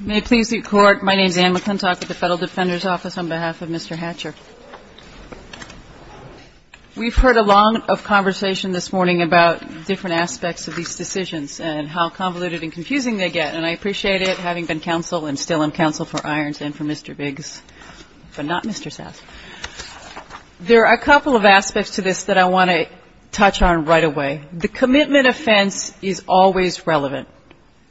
May it please the Court, my name is Anne McClintock with the Federal Defender's Office on behalf of Mr. Hatcher. We've heard a lot of conversation this morning about different aspects of these decisions and how convoluted and confusing they get. And I appreciate it, having been counsel and still am counsel for Irons and for Mr. Biggs, but not Mr. South. There are a couple of aspects to this that I want to touch on right away. The commitment offense is always relevant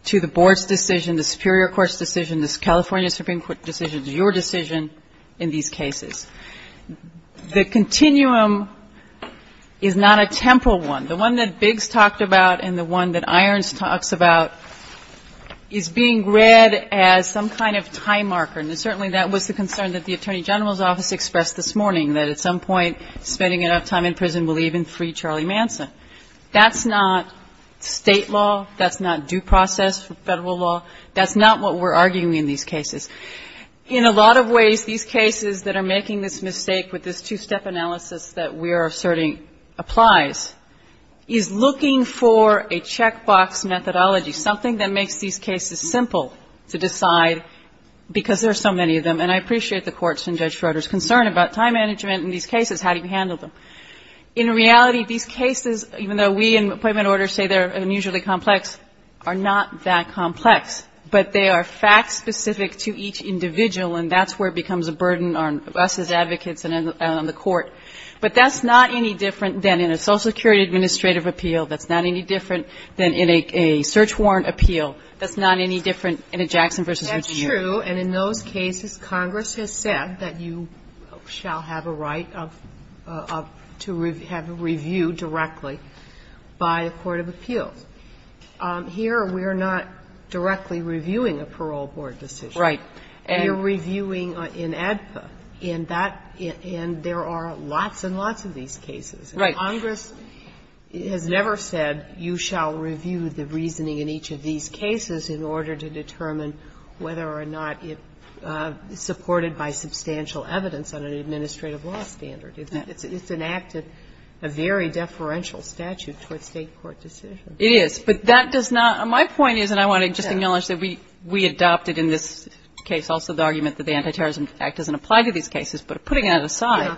to the Board's decision, the Superior Court's decision, the California Supreme Court's decision, to your decision in these cases. The continuum is not a temporal one. The one that Biggs talked about and the one that Irons talks about is being read as some kind of time marker. And certainly that was the concern that the Attorney General's Office expressed this morning, that at some point spending enough time in prison will even free Charlie Manson. That's not State law. That's not due process Federal law. That's not what we're arguing in these cases. In a lot of ways, these cases that are making this mistake with this two-step analysis that we are asserting applies, is looking for a checkbox methodology, something that makes these cases simple to decide because there are so many of them. And I appreciate the Court's and Judge Schroeder's concern about time management in these cases. How do you handle them? In reality, these cases, even though we in Appointment Order say they're unusually complex, are not that complex. But they are fact-specific to each individual, and that's where it becomes a burden on us as advocates and on the Court. But that's not any different than in a Social Security administrative appeal. That's not any different than in a search warrant appeal. That's not any different in a Jackson v. Virginia. It's true, and in those cases, Congress has said that you shall have a right of to have a review directly by a court of appeals. Here, we are not directly reviewing a parole board decision. Right. We are reviewing in ADPA. In that end, there are lots and lots of these cases. Congress has never said you shall review the reasoning in each of these cases in order to determine whether or not it's supported by substantial evidence on an administrative law standard. It's an act of very deferential statute towards State court decisions. It is. But that does not – my point is, and I want to just acknowledge that we adopted in this case also the argument that the Antiterrorism Act doesn't apply to these cases, but putting that aside,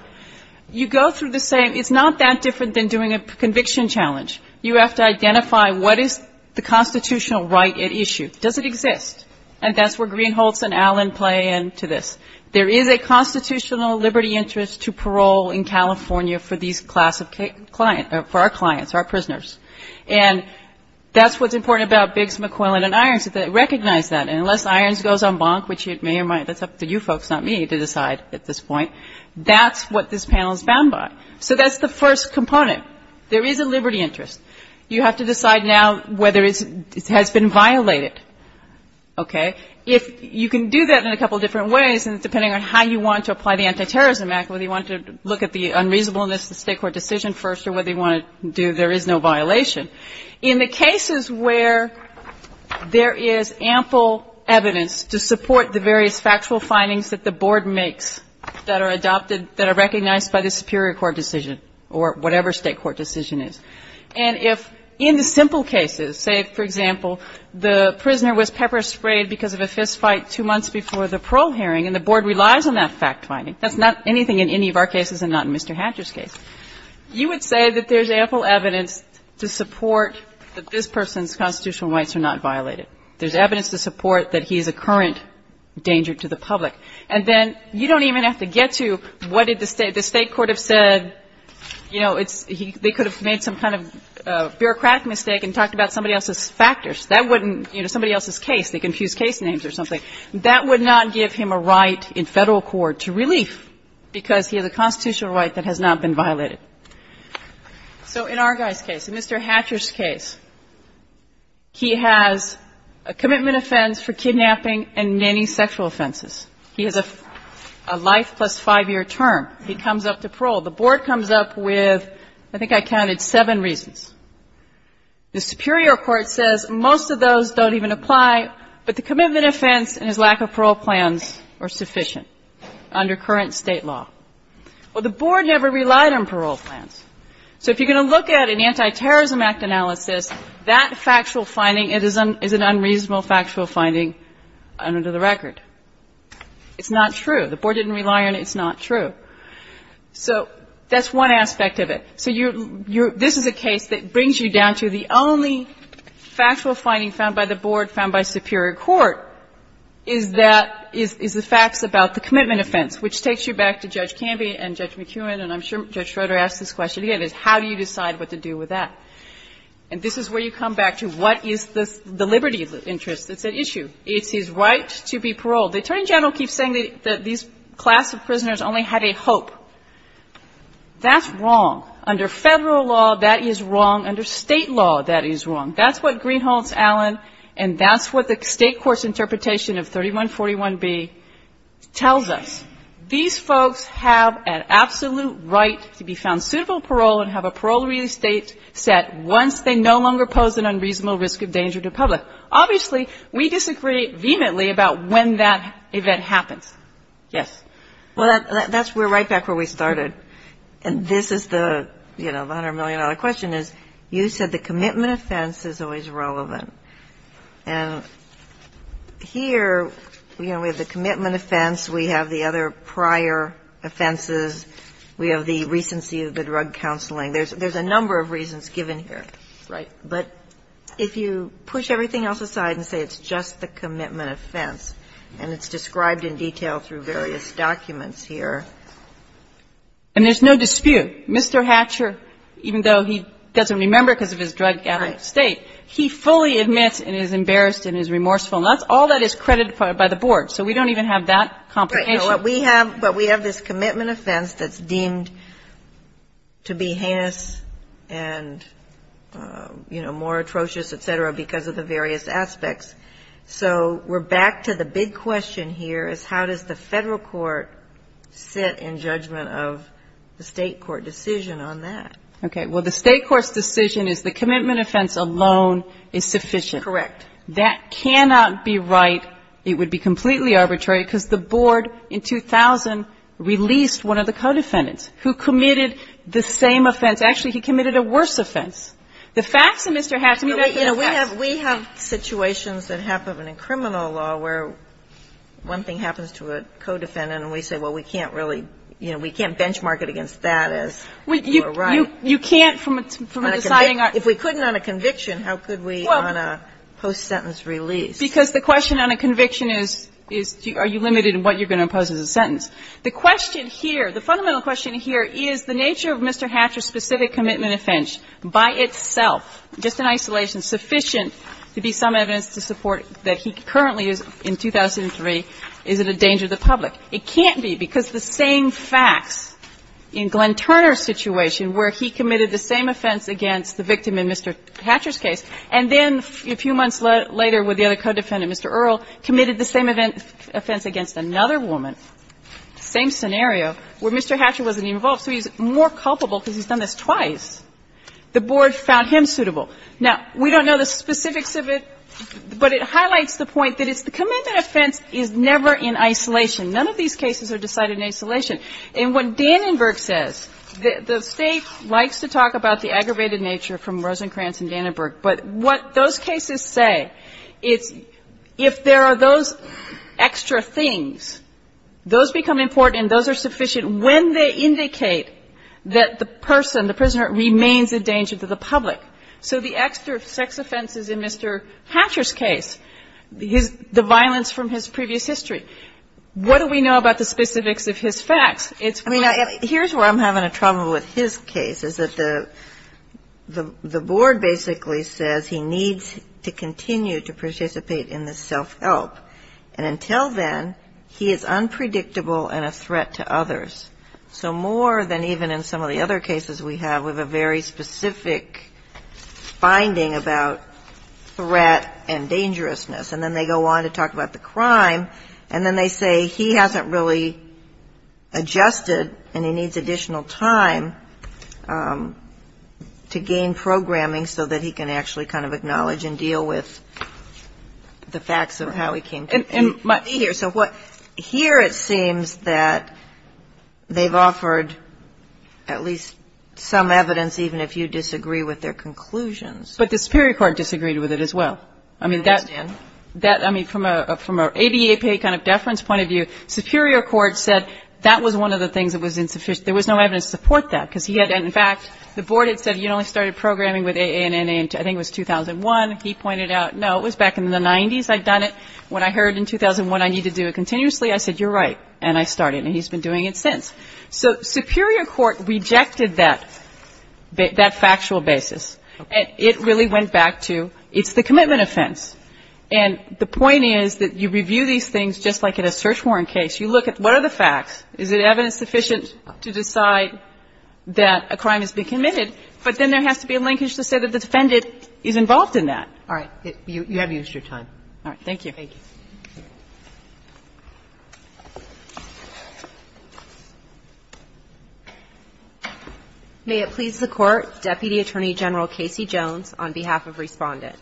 you go through the same – it's not that different than doing a conviction challenge. You have to identify what is the constitutional right at issue. Does it exist? And that's where Greenholz and Allen play into this. There is a constitutional liberty interest to parole in California for these class of – for our clients, our prisoners. And that's what's important about Biggs, McClellan, and Irons. They recognize that. And unless Irons goes en banc, which it may or might – that's up to you folks, not me, to decide at this point, that's what this panel is bound by. So that's the first component. There is a liberty interest. You have to decide now whether it has been violated. Okay? You can do that in a couple different ways depending on how you want to apply the Antiterrorism Act, whether you want to look at the unreasonableness of the state court decision first or whether you want to do there is no violation. In the cases where there is ample evidence to support the various factual findings that the board makes that are adopted, that are recognized by the superior court decision or whatever state court decision is. And if in the simple cases, say, for example, the prisoner was pepper sprayed because of a fistfight two months before the parole hearing and the board relies on that fact finding. That's not anything in any of our cases and not in Mr. Hatcher's case. You would say that there is ample evidence to support that this person's constitutional rights are not violated. There is evidence to support that he is a current danger to the public. And then you don't even have to get to what did the state – the state court have said, you know, they could have made some kind of bureaucratic mistake and talked about somebody else's factors. That wouldn't – you know, somebody else's case. They could have used case names or something. That would not give him a right in Federal court to relief because he has a constitutional right that has not been violated. So in our guy's case, in Mr. Hatcher's case, he has a commitment offense for kidnapping and many sexual offenses. He has a life plus 5-year term. He comes up to parole. The board comes up with I think I counted seven reasons. The superior court says most of those don't even apply, but the commitment offense and his lack of parole plans are sufficient under current State law. Well, the board never relied on parole plans. So if you're going to look at an Antiterrorism Act analysis, that factual finding is an unreasonable factual finding under the record. It's not true. The board didn't rely on it. It's not true. So that's one aspect of it. So you're – this is a case that brings you down to the only factual finding found by the board, found by superior court, is that – is the facts about the commitment offense, which takes you back to Judge Canvey and Judge McEwen, and I'm sure Judge Schroeder asked this question again, is how do you decide what to do with that? And this is where you come back to what is the liberty of interest. It's an issue. It's his right to be paroled. The Attorney General keeps saying that these class of prisoners only had a hope. That's wrong. Under Federal law, that is wrong. Under State law, that is wrong. That's what Greenholds, Allen, and that's what the State court's interpretation of 3141B tells us. These folks have an absolute right to be found suitable parole and have a parole real estate set once they no longer pose an unreasonable risk of danger to public. Obviously, we disagree vehemently about when that event happens. Yes. Well, that's – we're right back where we started. And this is the, you know, the $100 million question is, you said the commitment offense is always relevant. And here, you know, we have the commitment offense. We have the other prior offenses. We have the recency of the drug counseling. There's a number of reasons given here. Right. But if you push everything else aside and say it's just the commitment offense and it's described in detail through various documents here. And there's no dispute. Mr. Hatcher, even though he doesn't remember because of his drug-addicted state, he fully admits and is embarrassed and is remorseful. And that's all that is credited by the board. So we don't even have that complication. But we have this commitment offense that's deemed to be heinous and, you know, more atrocious, et cetera, because of the various aspects. So we're back to the big question here is how does the Federal court sit in judgment of the State court decision on that? Okay. Well, the State court's decision is the commitment offense alone is sufficient. Correct. That cannot be right. It would be completely arbitrary because the board in 2000 released one of the co-defendants who committed the same offense. Actually, he committed a worse offense. The facts of Mr. Hatcher. You know, we have situations that happen in criminal law where one thing happens to a co-defendant and we say, well, we can't really, you know, we can't benchmark it against that as you are right. You can't from a deciding argument. If we couldn't on a conviction, how could we on a post-sentence release? Because the question on a conviction is, are you limited in what you are going to impose as a sentence? The question here, the fundamental question here is the nature of Mr. Hatcher's specific commitment offense by itself, just in isolation, sufficient to be some evidence to support that he currently is, in 2003, is it a danger to the public. It can't be because the same facts in Glenn Turner's situation where he committed the same offense against the victim in Mr. Hatcher's case, and then a few months later with the other co-defendant, Mr. Earle, committed the same offense against another woman, same scenario, where Mr. Hatcher wasn't even involved. So he's more culpable because he's done this twice. The board found him suitable. Now, we don't know the specifics of it, but it highlights the point that it's the commitment offense is never in isolation. None of these cases are decided in isolation. And what Dannenberg says, the State likes to talk about the aggravated nature from Rosencrantz and Dannenberg, but what those cases say is if there are those extra things, those become important and those are sufficient when they indicate that the person, the prisoner remains a danger to the public. So the extra sex offenses in Mr. Hatcher's case, the violence from his previous history, what do we know about the specifics of his facts? Here's where I'm having a trouble with his case, is that the board basically says he needs to continue to participate in the self-help. And until then, he is unpredictable and a threat to others. So more than even in some of the other cases we have with a very specific finding about threat and dangerousness, and then they go on to talk about the additional time to gain programming so that he can actually kind of acknowledge and deal with the facts of how he came to be here. So here it seems that they've offered at least some evidence, even if you disagree with their conclusions. But the superior court disagreed with it as well. I mean, from an ADA pay kind of deference point of view, superior court said that was one of the things that was insufficient. There was no evidence to support that. Because he had, in fact, the board had said you only started programming with AANN, I think it was 2001. He pointed out, no, it was back in the 90s I'd done it. When I heard in 2001 I need to do it continuously, I said, you're right. And I started. And he's been doing it since. So superior court rejected that factual basis. And it really went back to it's the commitment offense. And the point is that you review these things just like in a search warrant case. You look at what are the facts. Is it evidence sufficient to decide that a crime has been committed? But then there has to be a linkage to say that the defendant is involved in that. All right. You have used your time. All right. Thank you. Thank you. May it please the Court, Deputy Attorney General Casey Jones, on behalf of Respondent.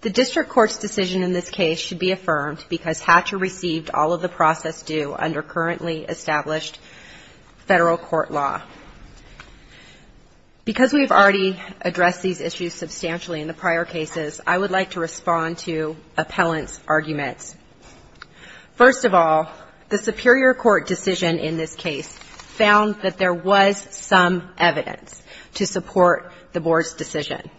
The district court's decision in this case should be affirmed because Hatcher received all of the process due under currently established federal court law. Because we have already addressed these issues substantially in the prior cases, I would like to respond to appellant's arguments. First of all, the superior court decision in this case found that there was some evidence to support the board's decision.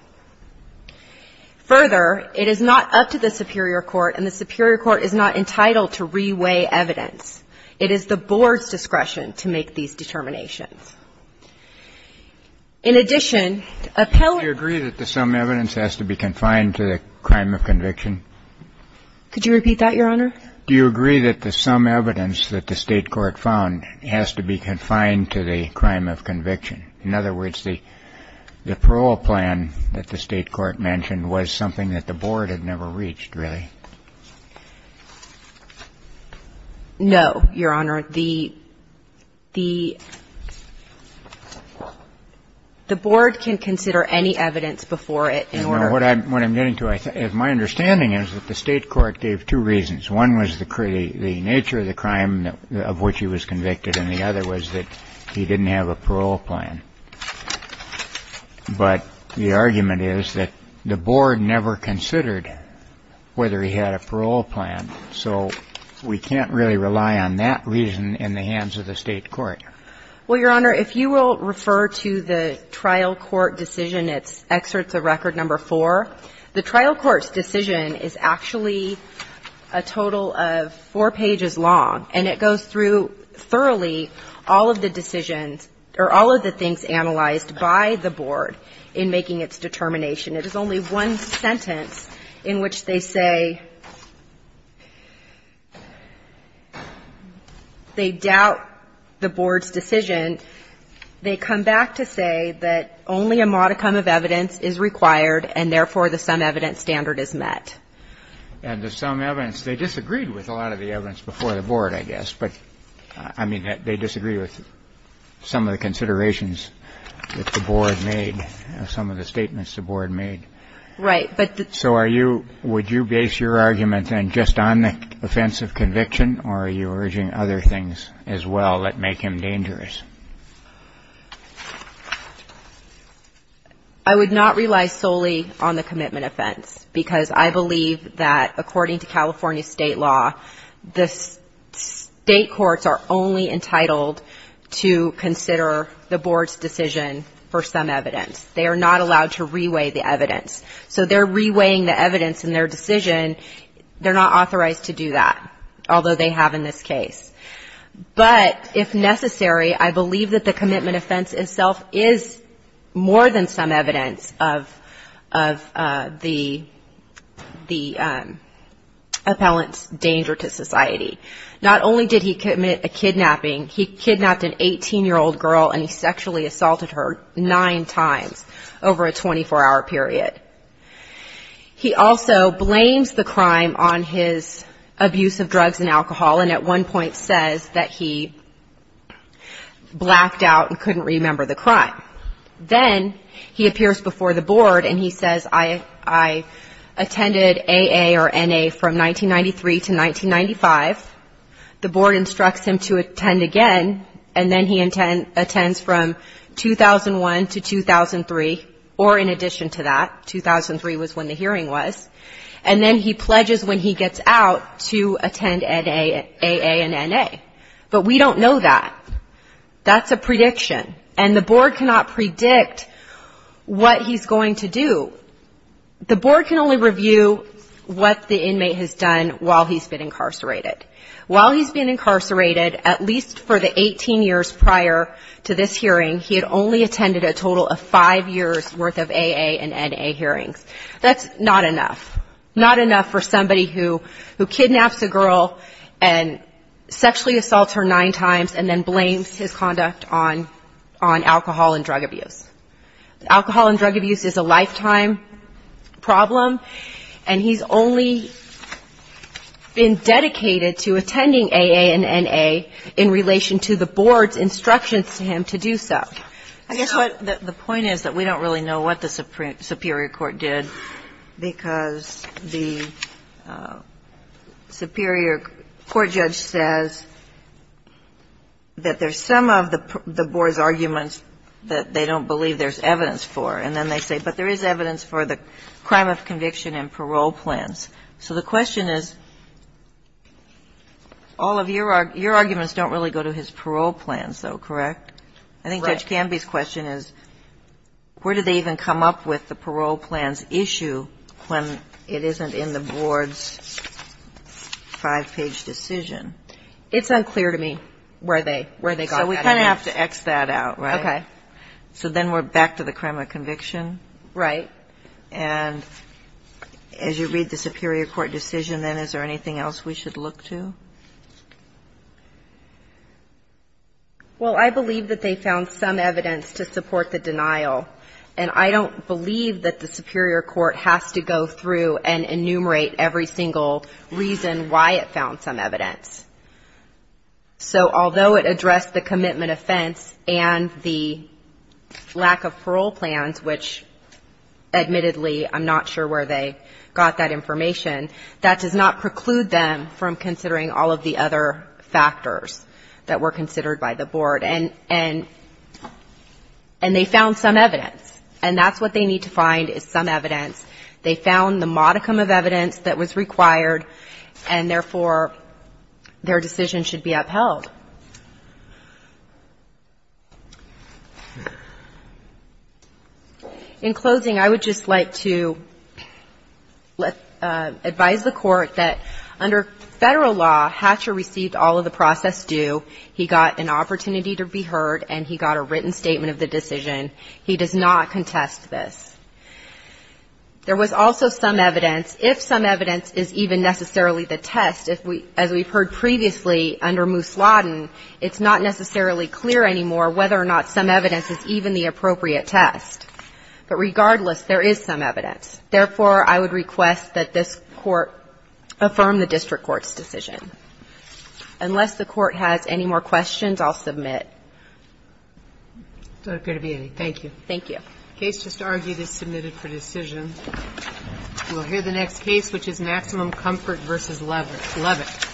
Further, it is not up to the superior court and the superior court is not entitled to re-weigh evidence. It is the board's discretion to make these determinations. In addition, appellant ---- Do you agree that there's some evidence that has to be confined to the crime of conviction? Could you repeat that, Your Honor? Do you agree that there's some evidence that the State court found has to be confined to the crime of conviction? In other words, the parole plan that the State court mentioned was something that the board had never reached, really? No, Your Honor. The board can consider any evidence before it in order to ---- What I'm getting to is my understanding is that the State court gave two reasons. One was the nature of the crime of which he was convicted, and the other was that he didn't have a parole plan. But the argument is that the board never considered whether he had a parole plan. So we can't really rely on that reason in the hands of the State court. Well, Your Honor, if you will refer to the trial court decision, it's excerpts of Record No. 4. The trial court's decision is actually a total of four pages long, and it goes through thoroughly all of the decisions or all of the things analyzed by the board in making its determination. It is only one sentence in which they say they doubt the board's decision. They come back to say that only a modicum of evidence is required, and therefore, the sum evidence standard is met. And the sum evidence, they disagreed with a lot of the evidence before the board, I guess. But, I mean, they disagreed with some of the considerations that the board made, some of the statements the board made. Right. So are you – would you base your argument, then, just on the offense of conviction, or are you urging other things as well that make him dangerous? I would not rely solely on the commitment offense, because I believe that according to California state law, the State courts are only entitled to consider the board's decision for some evidence. They are not allowed to reweigh the evidence. So they're reweighing the evidence in their decision. They're not authorized to do that, although they have in this case. But if necessary, I believe that the commitment offense itself is more than some evidence of the appellant's danger to society. Not only did he commit a kidnapping, he kidnapped an 18-year-old girl, and he sexually assaulted her nine times over a 24-hour period. He also blames the crime on his abuse of drugs and alcohol, and at one point says that he blacked out and couldn't remember the crime. Then he appears before the board and he says, I attended AA or NA from 1993 to 1995. The board instructs him to attend again, and then he attends from 2001 to 2003, or in addition to that. 2003 was when the hearing was. And then he pledges when he gets out to attend AA and NA. But we don't know that. That's a prediction. And the board cannot predict what he's going to do. The board can only review what the inmate has done while he's been incarcerated. While he's been incarcerated, at least for the 18 years prior to this hearing, he had only attended a total of five years' worth of AA and NA hearings. That's not enough. Not enough for somebody who kidnaps a girl and sexually assaults her nine times and then blames his conduct on alcohol and drug abuse. Alcohol and drug abuse is a lifetime problem, and he's only been dedicated to attending AA and NA in relation to the board's instructions to him to do so. The point is that we don't really know what the superior court did because the superior court judge says that there's some of the board's arguments that they don't believe there's evidence for. And then they say, but there is evidence for the crime of conviction and parole plans. So the question is, all of your arguments don't really go to his parole plans, though, correct? I think Judge Canby's question is, where do they even come up with the parole plans issue when it isn't in the board's five-page decision? It's unclear to me where they got that. So we kind of have to X that out, right? Okay. So then we're back to the crime of conviction? Right. And as you read the superior court decision, then, is there anything else we should look to? Well, I believe that they found some evidence to support the denial, and I don't believe that the superior court has to go through and enumerate every single reason why it found some evidence. So although it addressed the commitment offense and the lack of parole plans, which admittedly I'm not sure where they got that information, that does not preclude them from considering all of the other factors that were considered by the board. And they found some evidence, and that's what they need to find is some evidence. They found the modicum of evidence that was required, and therefore, their decision should be upheld. In closing, I would just like to advise the Court that under Federal law, Hatcher received all of the process due. He got an opportunity to be heard, and he got a written statement of the decision. He does not contest this. There was also some evidence. If some evidence is even necessarily the test, as we've heard previously under Moose Law, it's not necessarily clear anymore whether or not some evidence is even the appropriate test, but regardless, there is some evidence. Therefore, I would request that this Court affirm the district court's decision. Unless the Court has any more questions, I'll submit. Thank you. Thank you. The case just argued is submitted for decision. We'll hear the next case, which is Maximum Comfort v. Levitt. Levitt. Thank you.